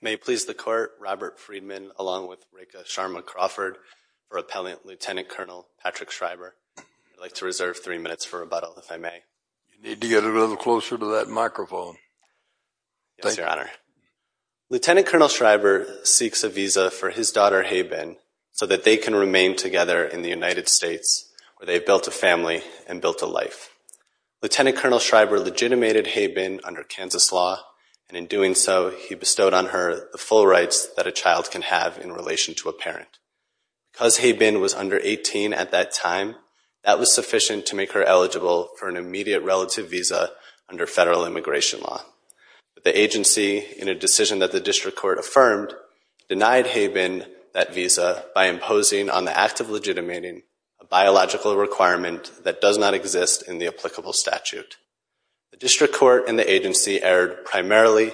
May it please the Court, Robert Friedman, along with Rekha Sharma Crawford, or Appellant Lt. Col. Patrick Schreiber. I'd like to reserve three minutes for rebuttal, if I may. You need to get a little closer to that microphone. Yes, Your Honor. Lt. Col. Schreiber seeks a visa for his daughter, Haybin, so that they can remain together in the United States, where they've built a family and built a life. Lt. Col. Schreiber legitimated Haybin under Kansas law, and in doing so, he bestowed on her the full rights that a child can have in relation to a parent. Because Haybin was under 18 at that time, that was sufficient to make her eligible for an immediate relative visa under federal immigration law. The agency, in a decision that the district court affirmed, denied Haybin that visa by imposing on the act of legitimating a biological requirement that does not exist in the applicable statute. The district court and the agency erred primarily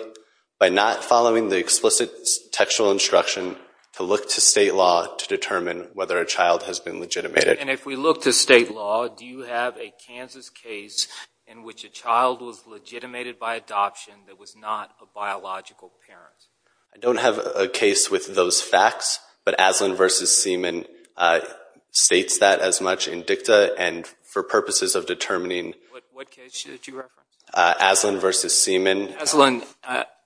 by not following the explicit textual instruction to look to state law to determine whether a child has been legitimated. And if we look to state law, do you have a Kansas case in which a child was legitimated by adoption that was not a biological parent? I don't have a case with those facts, but Aslan v. Seaman states that as much in dicta and for purposes of determining. What case did you reference? Aslan v. Seaman.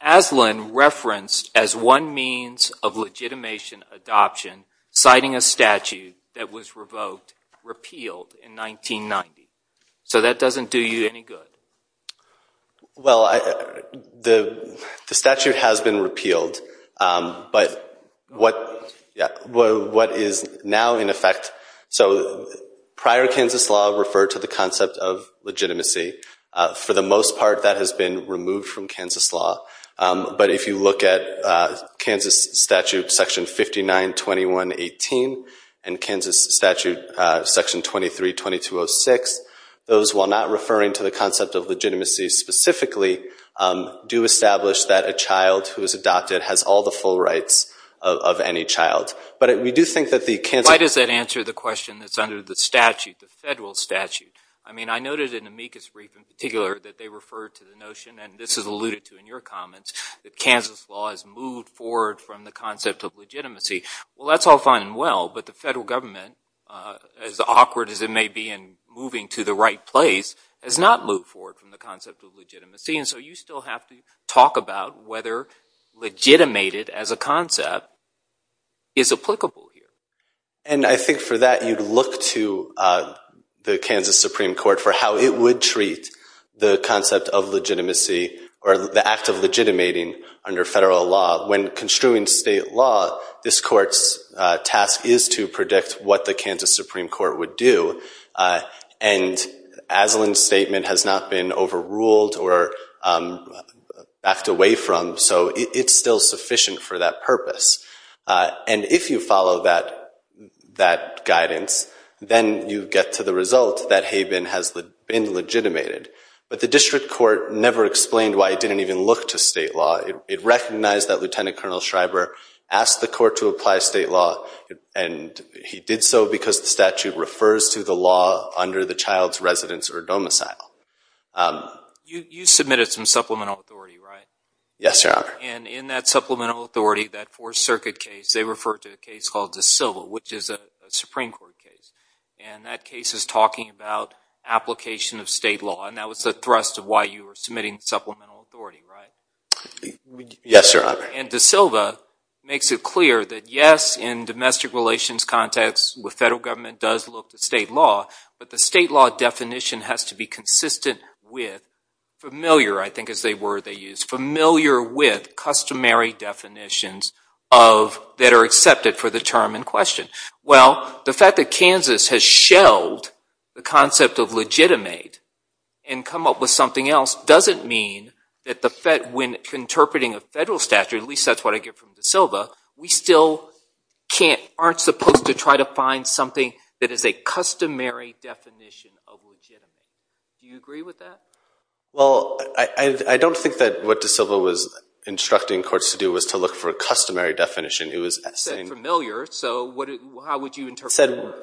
Aslan referenced as one means of legitimation adoption, citing a statute that was revoked, repealed in 1990. So that doesn't do you any good? Well, the statute has been repealed, but what is now in effect, so prior Kansas law referred to the concept of legitimacy, for the most part that has been removed from Kansas law. But if you look at Kansas statute section 592118 and Kansas statute section 232206, those while not referring to the concept of legitimacy specifically, do establish that a child who is adopted has all the full rights of any child. Why does that answer the question that's under the statute, the federal statute? I mean, I noted in Amicus brief in particular that they referred to the notion, and this is alluded to in your comments, that Kansas law has moved forward from the concept of legitimacy. Well, that's all fine and well, but the federal government, as awkward as it may be in moving to the right place, has not moved forward from the concept of legitimacy. And so you still have to talk about whether legitimated as a concept is applicable here. And I think for that, you'd look to the Kansas Supreme Court for how it would treat the concept of legitimacy or the act of legitimating under federal law. When construing state law, this court's task is to predict what the Kansas Supreme Court would do. And Aslan's statement has not been overruled or backed away from, so it's still sufficient for that purpose. And if you follow that guidance, then you get to the result that HABEN has been legitimated. But the district court never explained why it didn't even look to state law. It recognized that Lieutenant Colonel Schreiber asked the court to apply state law, and he did so because the statute refers to the law under the child's residence or domicile. You submitted some supplemental authority, right? Yes, Your Honor. And in that supplemental authority, that Fourth Circuit case, they referred to a case called De Silva, which is a Supreme Court case. And that case is talking about application of state law, and that was the thrust of why you were submitting supplemental authority, right? Yes, Your Honor. And De Silva makes it clear that yes, in domestic relations context, the federal government does look to state law, but the state law definition has to be consistent with, familiar, I think is the word they use, familiar with customary definitions that are accepted for the term in question. Well, the fact that Kansas has shelved the concept of legitimate and come up with something else doesn't mean that when interpreting a federal statute, at least that's what I get from De Silva, we still aren't supposed to try to find something that is a customary definition of legitimate. Do you agree with that? Well, I don't think that what De Silva was instructing courts to do was to look for a customary definition. You said familiar, so how would you interpret familiar?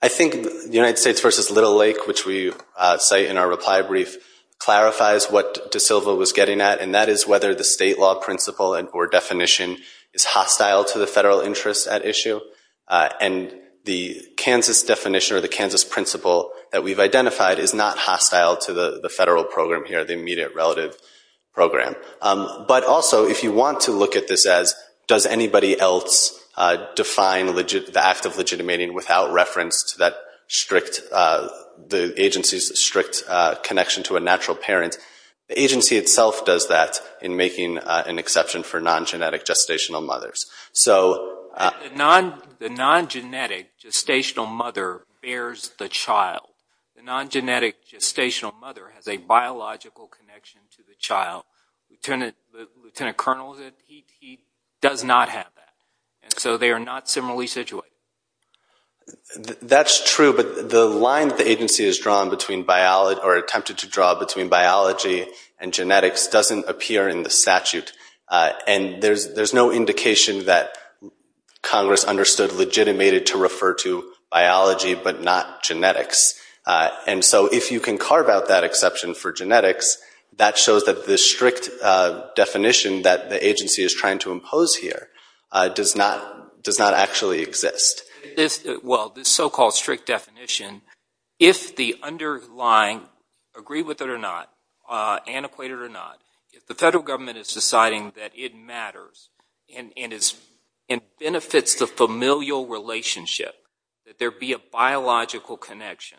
I think United States v. Little Lake, which we cite in our reply brief, clarifies what De Silva was getting at, and that is whether the state law principle or definition is hostile to the federal interest at issue, and the Kansas definition or the Kansas principle that we've identified is not hostile to the federal program here, the immediate relative program. But also, if you want to look at this as does anybody else define the act of legitimating without reference to the agency's strict connection to a natural parent, the agency itself does that in making an exception for non-genetic gestational mothers. The non-genetic gestational mother bears the child. The non-genetic gestational mother has a biological connection to the child. Lieutenant Colonel, he does not have that, and so they are not similarly situated. That's true, but the line that the agency has drawn or attempted to draw between biology and genetics doesn't appear in the statute, and there's no indication that Congress understood legitimated to refer to biology but not genetics. And so if you can carve out that exception for genetics, that shows that the strict definition that the agency is trying to impose here does not actually exist. Well, this so-called strict definition, if the underlying, agree with it or not, antiquate it or not, if the federal government is deciding that it matters and benefits the familial relationship, that there be a biological connection,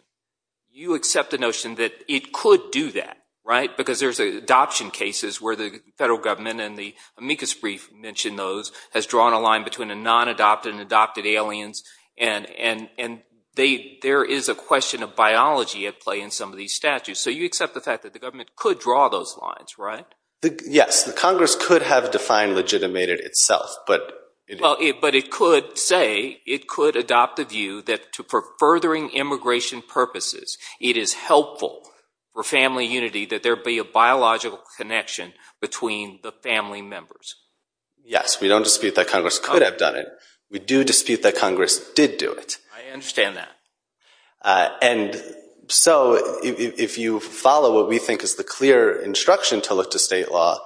you accept the notion that it could do that, right? Because there's adoption cases where the federal government and the amicus brief mention those, has drawn a line between a non-adopted and adopted aliens, and there is a question of biology at play in some of these statutes. So you accept the fact that the government could draw those lines, right? Yes, Congress could have defined legitimated itself. But it could say, it could adopt the view that for furthering immigration purposes, it is helpful for family unity that there be a biological connection between the family members. Yes, we don't dispute that Congress could have done it. We do dispute that Congress did do it. I understand that. And so, if you follow what we think is the clear instruction to look to state law,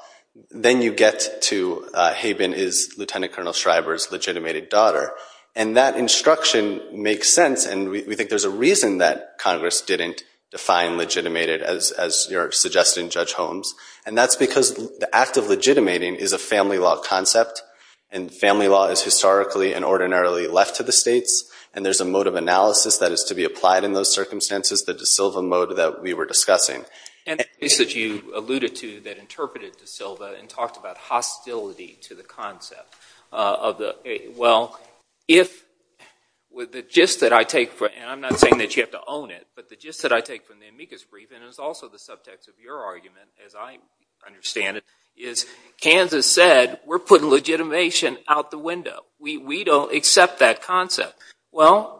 then you get to, Haben is Lieutenant Colonel Shriver's legitimated daughter. And that instruction makes sense, and we think there's a reason that Congress didn't define legitimated, as you're suggesting, Judge Holmes. And that's because the act of legitimating is a family law concept, and family law is historically and ordinarily left to the states, and there's a mode of analysis that is to be applied in those circumstances, the De Silva mode that we were discussing. And the case that you alluded to that interpreted De Silva and talked about hostility to the concept, well, the gist that I take, and I'm not saying that you have to own it, but the gist that I take from the amicus brief, and it's also the subtext of your argument, as I understand it, is Kansas said, we're putting legitimation out the window. We don't accept that concept. Well,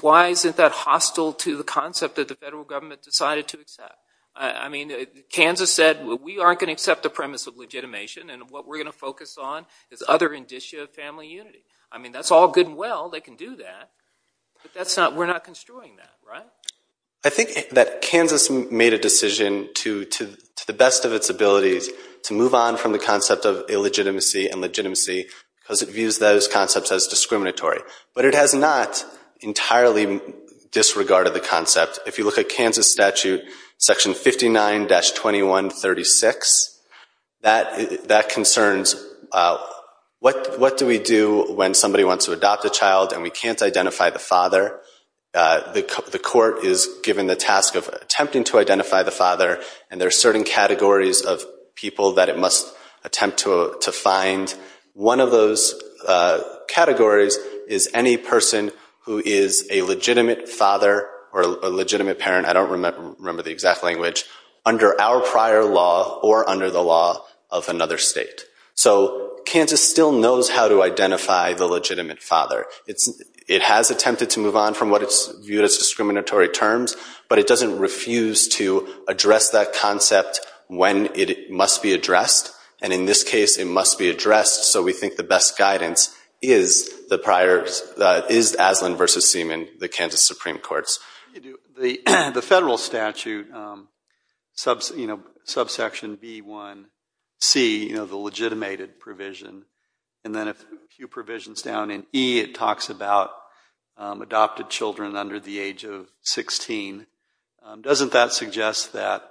why isn't that hostile to the concept that the federal government decided to accept? I mean, Kansas said, we aren't going to accept the premise of legitimation, and what we're going to focus on is other indicia of family unity. I mean, that's all good and well, they can do that, but we're not construing that, right? I think that Kansas made a decision to the best of its abilities to move on from the concept of illegitimacy and legitimacy because it views those concepts as discriminatory. But it has not entirely disregarded the concept. If you look at Kansas statute section 59-2136, that concerns, what do we do when somebody wants to adopt a child and we can't identify the father? The court is given the task of attempting to identify the father, and there are certain categories of people that it must attempt to find. One of those categories is any person who is a legitimate father or a legitimate parent, I don't remember the exact language, under our prior law or under the law of another state. So Kansas still knows how to identify the legitimate father. It has attempted to move on from what it's viewed as discriminatory terms, but it doesn't refuse to address that concept when it must be addressed. And in this case, it must be addressed. So we think the best guidance is Aslan v. Seaman, the Kansas Supreme Courts. The federal statute, subsection B1C, the legitimated provision, and then a few provisions down in E, it talks about adopted children under the age of 16. Doesn't that suggest that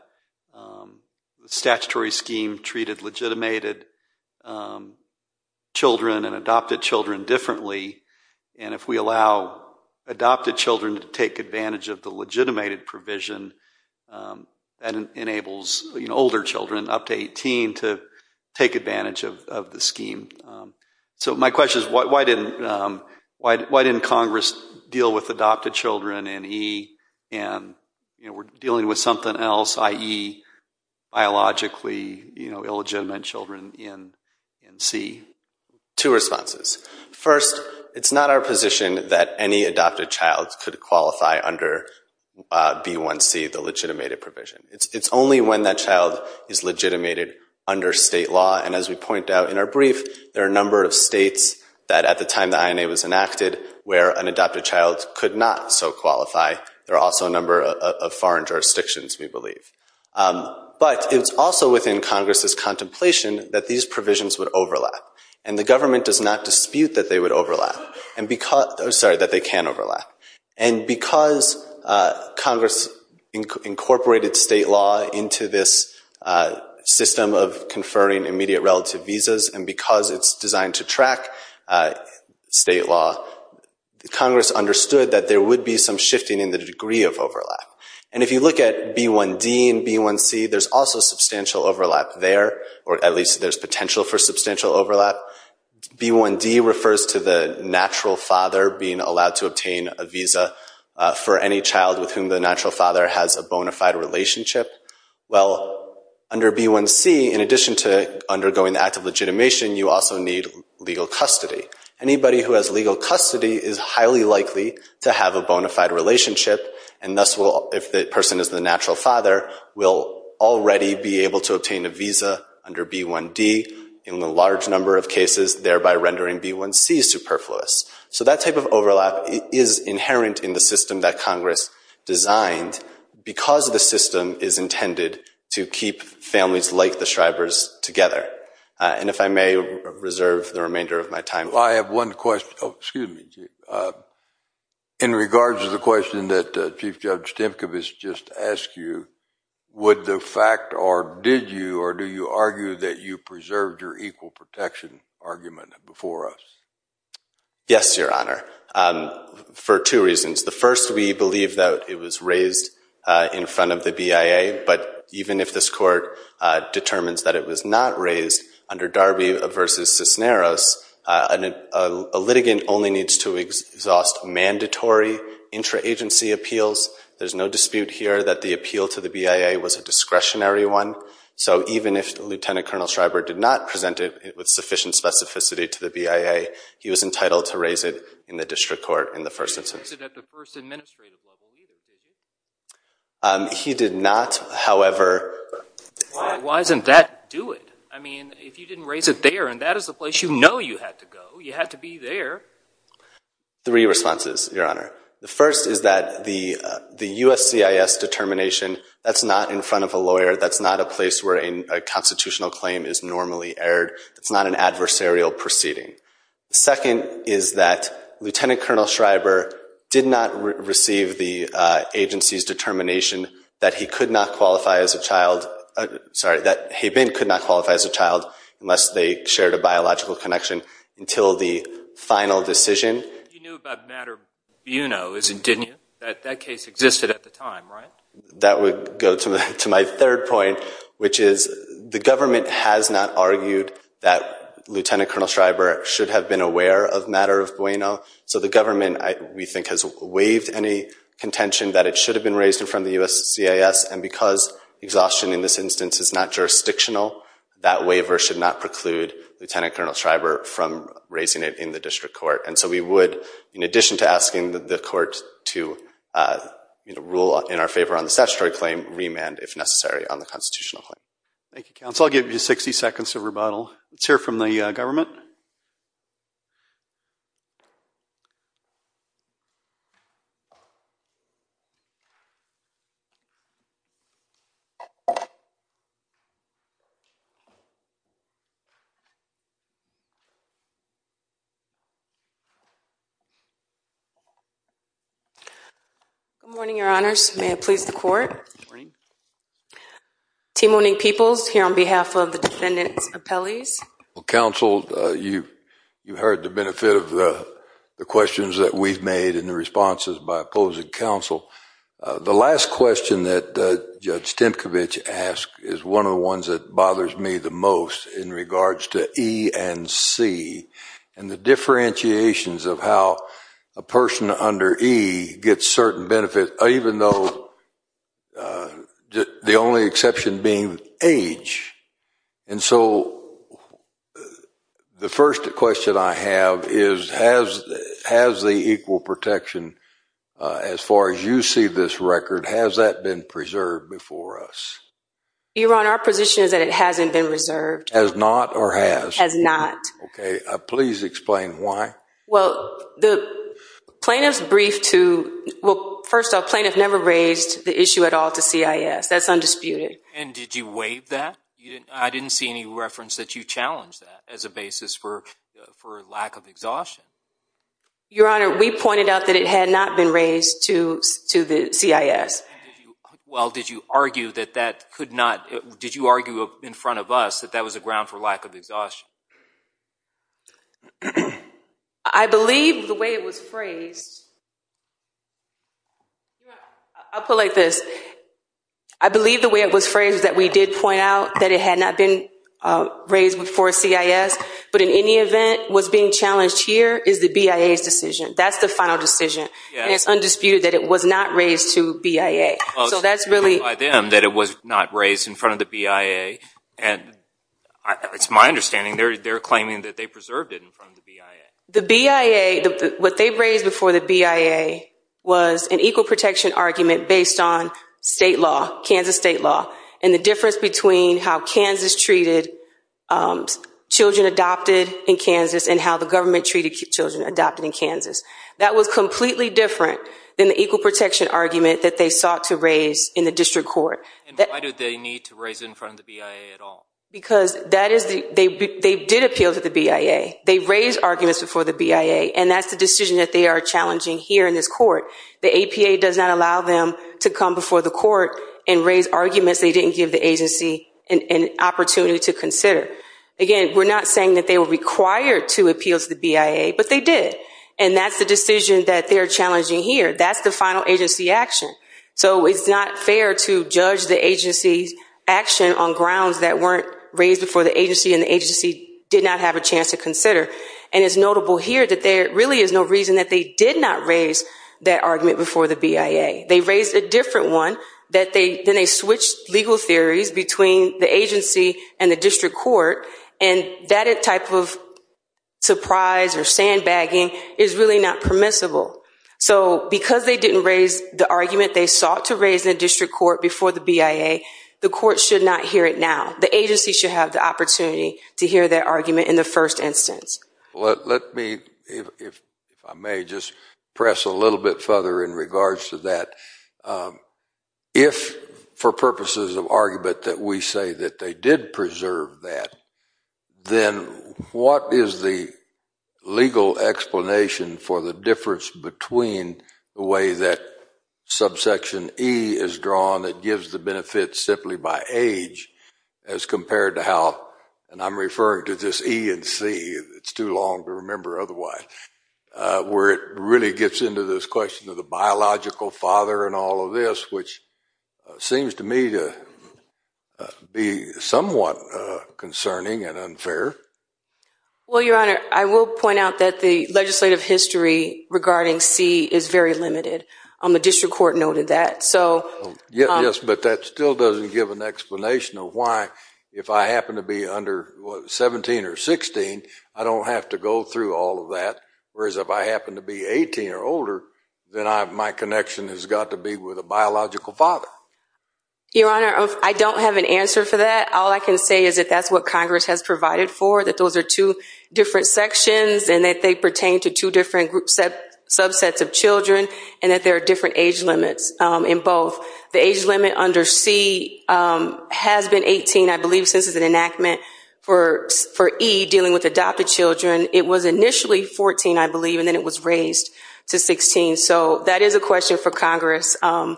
the statutory scheme treated legitimated children and adopted children differently? And if we allow adopted children to take advantage of the legitimated provision, that enables older children up to 18 to take advantage of the scheme. So my question is, why didn't Congress deal with adopted children in E and we're dealing with something else, i.e. biologically illegitimate children in C? Two responses. First, it's not our position that any adopted child could qualify under B1C, the legitimated provision. It's only when that child is legitimated under state law. And as we point out in our brief, there are a number of states that at the time the INA was enacted where an adopted child could not so qualify. There are also a number of foreign jurisdictions, we believe. But it's also within Congress's contemplation that these provisions would overlap. And the government does not dispute that they would overlap. I'm sorry, that they can overlap. And because Congress incorporated state law into this system of conferring immediate relative visas and because it's designed to track state law, Congress understood that there would be some shifting in the degree of overlap. And if you look at B1D and B1C, there's also substantial overlap there, or at least there's potential for substantial overlap. B1D refers to the natural father being allowed to obtain a visa for any child with whom the natural father has a bona fide relationship. Well, under B1C, in addition to undergoing the act of legitimation, you also need legal custody. Anybody who has legal custody is highly likely to have a bona fide relationship, and thus, if the person is the natural father, will already be able to obtain a visa under B1D in a large number of cases, thereby rendering B1C superfluous. So that type of overlap is inherent in the system that Congress designed because the system is intended to keep families like the Shribers together. And if I may reserve the remainder of my time. I have one question. Oh, excuse me, Chief. In regards to the question that Chief Judge Stimkov has just asked you, would the fact, or did you, or do you argue that you preserved your equal protection argument before us? Yes, Your Honor, for two reasons. The first, we believe that it was raised in front of the BIA, but even if this court determines that it was not raised under Darby v. Cisneros, a litigant only needs to exhaust mandatory intra-agency appeals. There's no dispute here that the appeal to the BIA was a discretionary one. So even if Lieutenant Colonel Shriber did not present it with sufficient specificity to the BIA, he was entitled to raise it in the district court in the first instance. He raised it at the first administrative level. He did not, however. Why doesn't that do it? I mean, if you didn't raise it there, and that is the place you know you had to go, you had to be there. Three responses, Your Honor. The first is that the USCIS determination, that's not in front of a lawyer. That's not a place where a constitutional claim is normally aired. It's not an adversarial proceeding. The second is that Lieutenant Colonel Shriber did not receive the agency's determination that he could not qualify as a child, sorry, that he then could not qualify as a child unless they shared a biological connection until the final decision. You knew about Mater Buono, didn't you? That case existed at the time, right? That would go to my third point, which is the government has not argued that Lieutenant Colonel Shriber should have been aware of Mater Buono. So the government, we think, has waived any contention that it should have been raised in front of the USCIS. And because exhaustion in this instance is not jurisdictional, that waiver should not preclude Lieutenant Colonel Shriber from raising it in the district court. And so we would, in addition to asking the court to rule in our favor on the statutory claim, remand if necessary on the constitutional claim. Thank you, counsel. I'll give you 60 seconds of rebuttal. Let's hear from the government. Good morning, Your Honors. May it please the court. Good morning. Team O'Neill Peoples here on behalf of the defendant's appellees. Well, counsel, you heard the benefit of the questions that we've made and the responses by opposing counsel. The last question that Judge Stemkevich asked is one of the ones that bothers me the most in regards to E and C and the differentiations of how a person under E gets certain benefits, even though the only exception being age. And so the first question I have is, has the equal protection as far as you see this record, has that been preserved before us? Your Honor, our position is that it hasn't been reserved. Has not or has? Has not. Okay. Please explain why. Well, the plaintiff's brief to, well, first off, plaintiff never raised the issue at all to CIS. That's undisputed. And did you waive that? I didn't see any reference that you challenged that as a basis for lack of exhaustion. Your Honor, we pointed out that it had not been raised to the CIS. Well, did you argue in front of us that that was a ground for lack of exhaustion? I believe the way it was phrased, I'll put it like this. I believe the way it was phrased is that we did point out that it had not been raised before CIS. But in any event, what's being challenged here is the BIA's decision. That's the final decision. And it's undisputed that it was not raised to BIA. So that's really- Well, it's clear by them that it was not raised in front of the BIA. And it's my understanding they're claiming that they preserved it in front of the BIA. The BIA, what they raised before the BIA was an equal protection argument based on state law, Kansas state law, and the difference between how Kansas treated children adopted in Kansas and how the government treated children adopted in Kansas. That was completely different than the equal protection argument that they sought to raise in the district court. And why did they need to raise it in front of the BIA at all? Because they did appeal to the BIA. They raised arguments before the BIA. And that's the decision that they are challenging here in this court. The APA does not allow them to come before the court and raise arguments they didn't give the agency an opportunity to consider. Again, we're not saying that they were required to appeal to the BIA, but they did. And that's the decision that they're challenging here. That's the final agency action. So it's not fair to judge the agency's action on grounds that weren't raised before the agency and the agency did not have a chance to consider. And it's notable here that there really is no reason that they did not raise that argument before the BIA. They raised a different one. Then they switched legal theories between the agency and the district court, and that type of surprise or sandbagging is really not permissible. So because they didn't raise the argument they sought to raise in the district court before the BIA, the court should not hear it now. The agency should have the opportunity to hear their argument in the first instance. Let me, if I may, just press a little bit further in regards to that. If for purposes of argument that we say that they did preserve that, then what is the legal explanation for the difference between the way that subsection E is drawn that gives the benefit simply by age as compared to how, and I'm referring to this E and C, it's too long to remember otherwise, where it really gets into this question of the biological father and all of this, which seems to me to be somewhat concerning and unfair. Well, Your Honor, I will point out that the legislative history regarding C is very limited. The district court noted that. Yes, but that still doesn't give an explanation of why if I happen to be under 17 or 16, I don't have to go through all of that, whereas if I happen to be 18 or older, then my connection has got to be with a biological father. Your Honor, I don't have an answer for that. All I can say is that that's what Congress has provided for, that those are two different sections and that they pertain to two different subsets of children and that there are different age limits in both. The age limit under C has been 18, I believe, since it's an enactment for E dealing with adopted children. It was initially 14, I believe, and then it was raised to 16. So that is a question for Congress. Your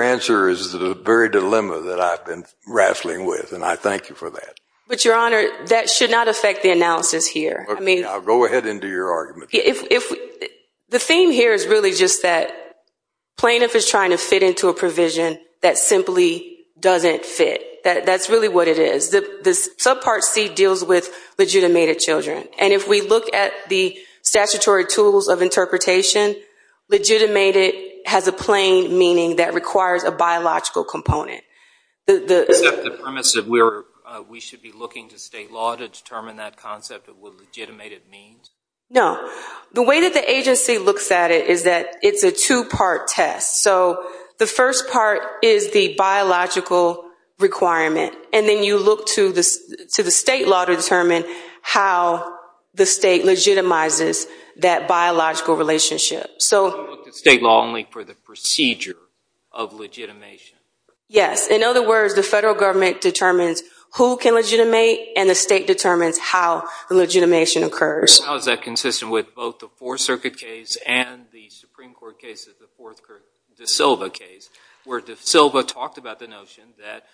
answer is the very dilemma that I've been wrestling with, and I thank you for that. But, Your Honor, that should not affect the analysis here. I'll go ahead and do your argument. The theme here is really just that plaintiff is trying to fit into a provision that simply doesn't fit. That's really what it is. Subpart C deals with legitimated children, and if we look at the statutory tools of interpretation, legitimated has a plain meaning that requires a biological component. Except the premise that we should be looking to state law to determine that concept of what legitimated means? No. The way that the agency looks at it is that it's a two-part test. So the first part is the biological requirement, and then you look to the state law to determine how the state legitimizes that biological relationship. So you look to state law only for the procedure of legitimation? Yes. In other words, the federal government determines who can legitimate, and the state determines how the legitimation occurs. How is that consistent with both the Fourth Circuit case and the Supreme Court case, the De Silva case, where De Silva talked about the notion that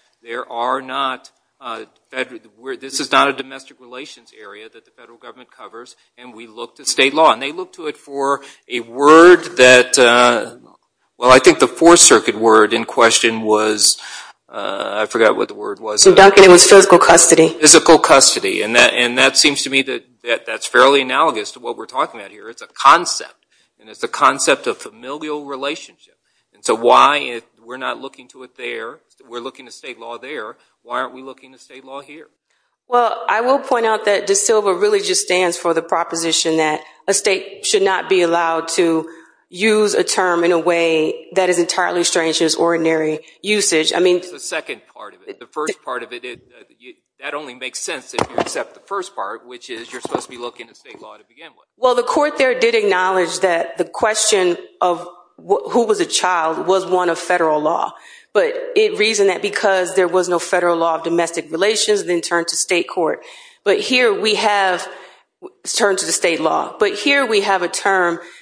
this is not a domestic relations area that the federal government covers, and we look to state law? And they look to it for a word that, well, I think the Fourth Circuit word in question was, I forgot what the word was. It was physical custody. Physical custody, and that seems to me that that's fairly analogous to what we're talking about here. It's a concept, and it's a concept of familial relationship. And so why, if we're not looking to it there, we're looking to state law there, why aren't we looking to state law here? Well, I will point out that De Silva really just stands for the proposition that a state should not be allowed to use a term in a way that is entirely strange to its ordinary usage. That's the second part of it. The first part of it, that only makes sense if you accept the first part, which is you're supposed to be looking to state law to begin with. Well, the court there did acknowledge that the question of who was a child was one of federal law, but it reasoned that because there was no federal law of domestic relations, then turned to state court. But here we have a term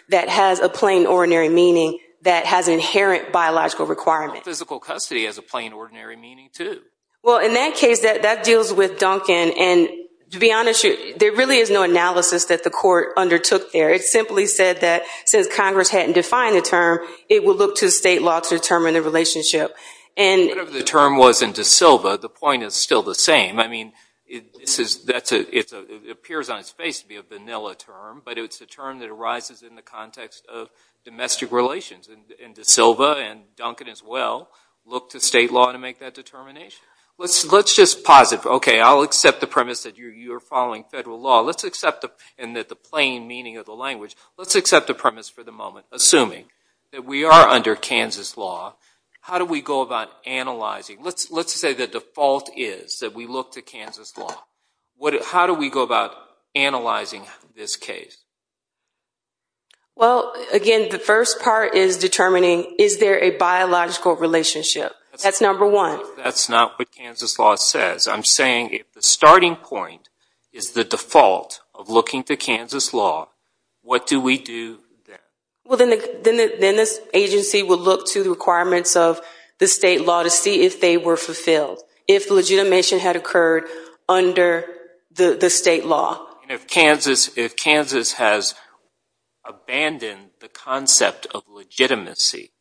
that has a plain, ordinary meaning that has an inherent biological requirement. Physical custody has a plain, ordinary meaning, too. Well, in that case, that deals with Duncan. And to be honest with you, there really is no analysis that the court undertook there. It simply said that since Congress hadn't defined the term, it would look to state law to determine the relationship. Whatever the term was in De Silva, the point is still the same. I mean, it appears on its face to be a vanilla term, but it's a term that arises in the context of domestic relations. And De Silva and Duncan as well look to state law to make that determination. Let's just posit, okay, I'll accept the premise that you're following federal law. Let's accept the plain meaning of the language. Let's accept the premise for the moment, assuming that we are under Kansas law. How do we go about analyzing? Let's say the default is that we look to Kansas law. How do we go about analyzing this case? Well, again, the first part is determining is there a biological relationship. That's number one. That's not what Kansas law says. I'm saying if the starting point is the default of looking to Kansas law, what do we do then? Well, then this agency would look to the requirements of the state law to see if they were fulfilled, if legitimation had occurred under the state law. If Kansas has abandoned the concept of legitimacy,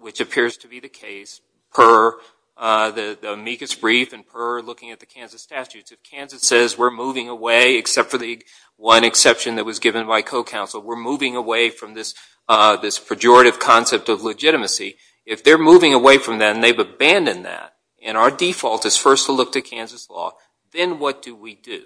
which appears to be the case, per the amicus brief and per looking at the Kansas statutes. If Kansas says we're moving away, except for the one exception that was given by co-counsel, we're moving away from this pejorative concept of legitimacy. If they're moving away from that and they've abandoned that, and our default is first to look to Kansas law, then what do we do?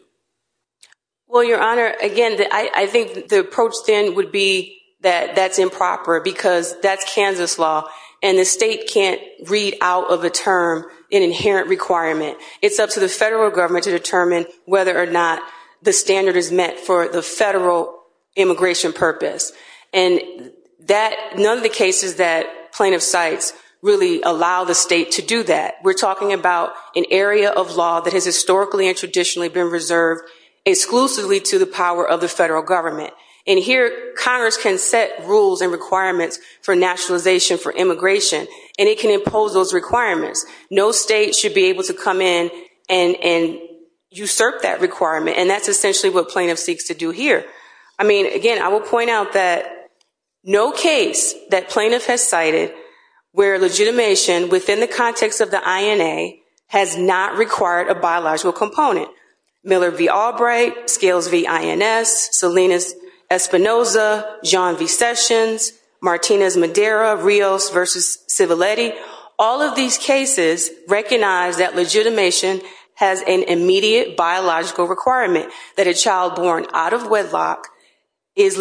Well, Your Honor, again, I think the approach then would be that that's improper because that's Kansas law, and the state can't read out of a term an inherent requirement. It's up to the federal government to determine whether or not the standard is met for the federal immigration purpose. And none of the cases that plaintiff cites really allow the state to do that. We're talking about an area of law that has historically and traditionally been reserved exclusively to the power of the federal government. And here Congress can set rules and requirements for nationalization for immigration, and it can impose those requirements. No state should be able to come in and usurp that requirement, and that's essentially what plaintiff seeks to do here. I mean, again, I will point out that no case that plaintiff has cited where legitimation, within the context of the INA, has not required a biological component. Miller v. Albright, Scales v. INS, Salinas v. Espinoza, John v. Sessions, Martinez v. Madeira, Rios v. Civiletti, all of these cases recognize that legitimation has an immediate biological requirement, that a child born out of wedlock is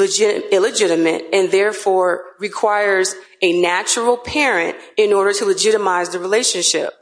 illegitimate and therefore requires a natural parent in order to legitimize the relationship.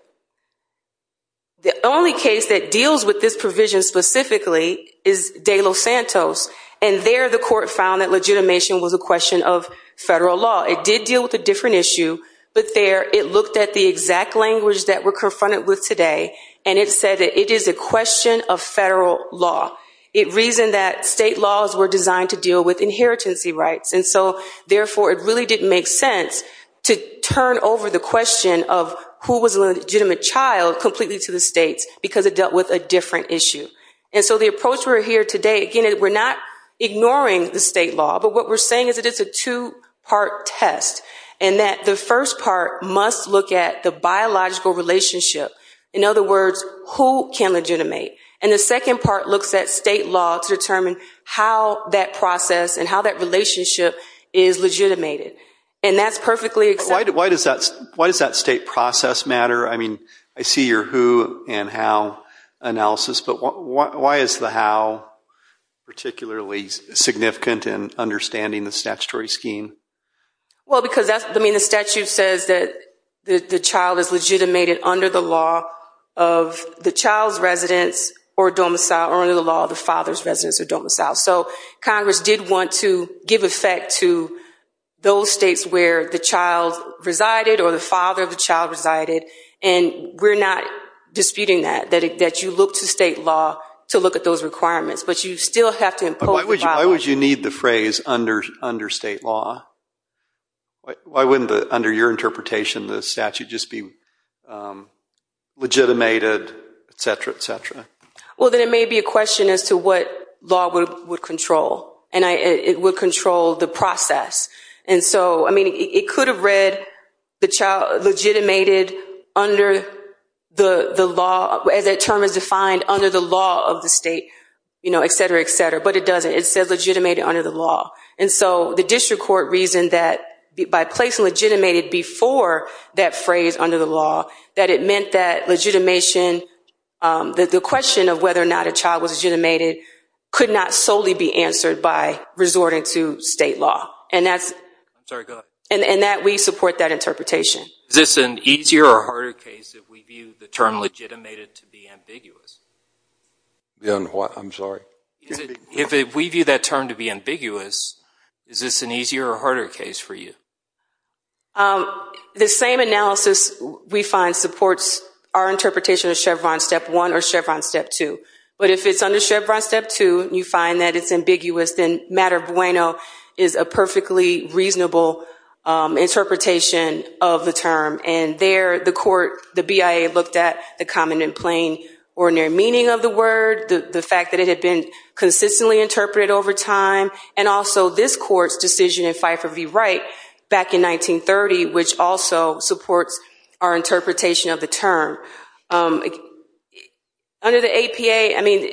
The only case that deals with this provision specifically is De Los Santos, and there the court found that legitimation was a question of federal law. It did deal with a different issue, but there it looked at the exact language that we're confronted with today, and it said that it is a question of federal law. It reasoned that state laws were designed to deal with inheritance rights, and so therefore it really didn't make sense to turn over the question of who was a legitimate child completely to the states because it dealt with a different issue. And so the approach we're here today, again, we're not ignoring the state law, but what we're saying is that it's a two-part test and that the first part must look at the biological relationship. In other words, who can legitimate? And the second part looks at state law to determine how that process and how that relationship is legitimated, and that's perfectly acceptable. Why does that state process matter? I mean, I see your who and how analysis, but why is the how particularly significant in understanding the statutory scheme? Well, because the statute says that the child is legitimated under the law of the child's residence or domicile So Congress did want to give effect to those states where the child resided or the father of the child resided, and we're not disputing that, that you look to state law to look at those requirements, but you still have to impose the violation. But why would you need the phrase under state law? Why wouldn't, under your interpretation, the statute just be legitimated, et cetera, et cetera? Well, then it may be a question as to what law would control, and it would control the process. And so, I mean, it could have read the child legitimated under the law, as that term is defined, under the law of the state, et cetera, et cetera, but it doesn't. It says legitimated under the law. And so the district court reasoned that by placing legitimated before that phrase under the law, that it meant that legitimation, that the question of whether or not a child was legitimated, could not solely be answered by resorting to state law, and that we support that interpretation. Is this an easier or harder case if we view the term legitimated to be ambiguous? I'm sorry? If we view that term to be ambiguous, is this an easier or harder case for you? The same analysis we find supports our interpretation of Chevron Step 1 or Chevron Step 2. But if it's under Chevron Step 2 and you find that it's ambiguous, then matter bueno is a perfectly reasonable interpretation of the term. And there the court, the BIA, looked at the common and plain ordinary meaning of the word, the fact that it had been consistently interpreted over time, and also this court's decision in Fifer v. Wright back in 1930, which also supports our interpretation of the term. Under the APA, I mean,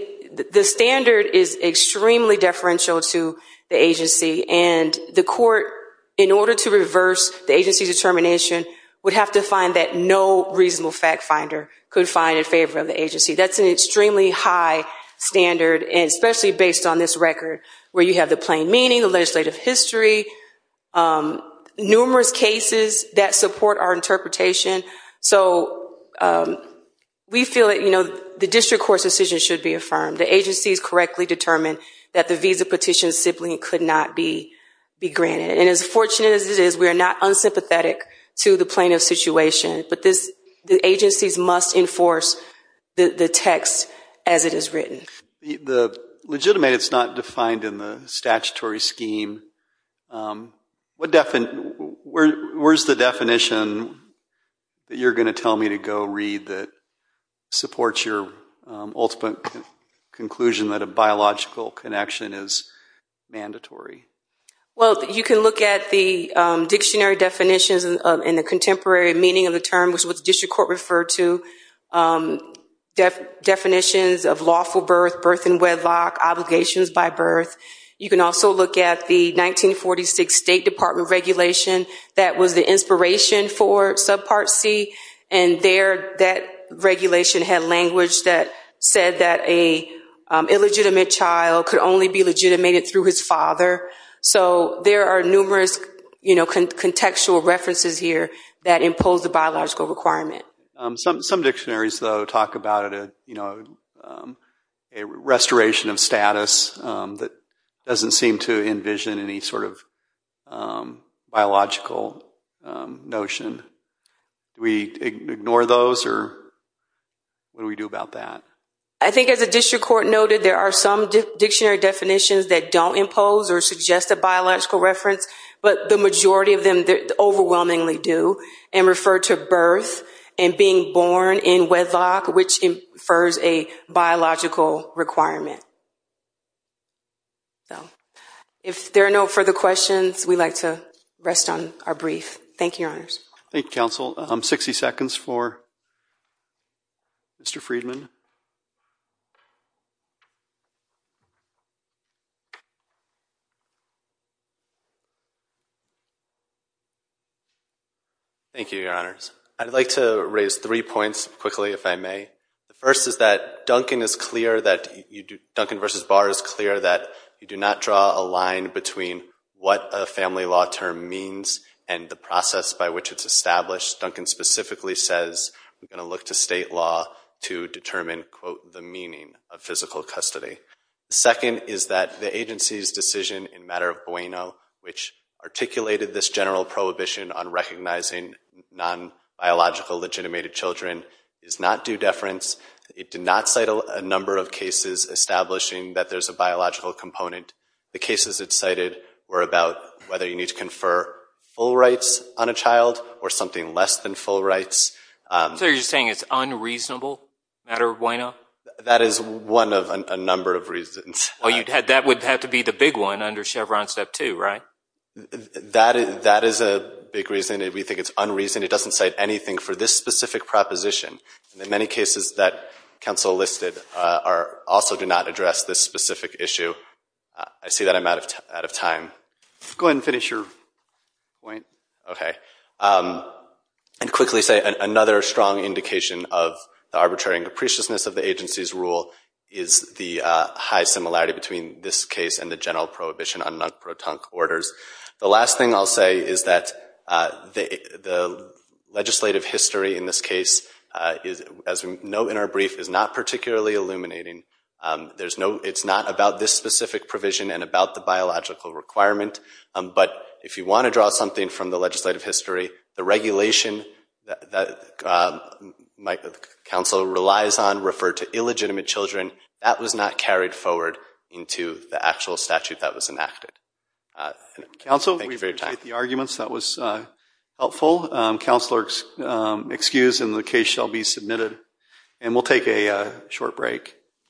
the standard is extremely deferential to the agency, and the court, in order to reverse the agency's determination, would have to find that no reasonable fact finder could find in favor of the agency. That's an extremely high standard, and especially based on this record where you have the plain meaning, the legislative history, numerous cases that support our interpretation. So we feel that the district court's decision should be affirmed. The agencies correctly determined that the visa petition simply could not be granted. And as fortunate as it is, we are not unsympathetic to the plaintiff's situation, but the agencies must enforce the text as it is written. The legitimate is not defined in the statutory scheme. Where's the definition that you're going to tell me to go read that supports your ultimate conclusion that a biological connection is mandatory? Well, you can look at the dictionary definitions and the contemporary meaning of the term, which is what the district court referred to, definitions of lawful birth, birth in wedlock, obligations by birth. You can also look at the 1946 State Department regulation that was the inspiration for Subpart C, and there that regulation had language that said that an illegitimate child could only be legitimated through his father. So there are numerous contextual references here that impose the biological requirement. Some dictionaries, though, talk about a restoration of status that doesn't seem to envision any sort of biological notion. Do we ignore those, or what do we do about that? I think as the district court noted, there are some dictionary definitions that don't impose or suggest a biological reference, but the majority of them overwhelmingly do and refer to birth and being born in wedlock, which infers a biological requirement. If there are no further questions, we'd like to rest on our brief. Thank you, Your Honors. Thank you, Counsel. Sixty seconds for Mr. Friedman. Thank you, Your Honors. I'd like to raise three points quickly, if I may. The first is that Duncan v. Barr is clear that you do not draw a line between what a family law term means and the process by which it's established. Duncan specifically says we're going to look to state law to determine, quote, the meaning of physical custody. The second is that the agency's decision in matter of Bueno, which articulated this general prohibition on recognizing non-biological legitimated children, is not due deference. It did not cite a number of cases establishing that there's a biological component. The cases it cited were about whether you need to confer full rights on a child or something less than full rights. So you're saying it's unreasonable, matter of Bueno? That is one of a number of reasons. Well, that would have to be the big one under Chevron Step 2, right? That is a big reason. We think it's unreasonable. It doesn't cite anything for this specific proposition. The many cases that Counsel listed also do not address this specific issue. I see that I'm out of time. Go ahead and finish your point. Okay. And quickly say another strong indication of the arbitrary and capriciousness of the agency's rule is the high similarity between this case and the general prohibition on non-protonic orders. The last thing I'll say is that the legislative history in this case, as we know in our brief, is not particularly illuminating. It's not about this specific provision and about the biological requirement. But if you want to draw something from the legislative history, the regulation that counsel relies on referred to illegitimate children, that was not carried forward into the actual statute that was enacted. Counsel, we appreciate the arguments. That was helpful. Counsel are excused and the case shall be submitted. And we'll take a short break.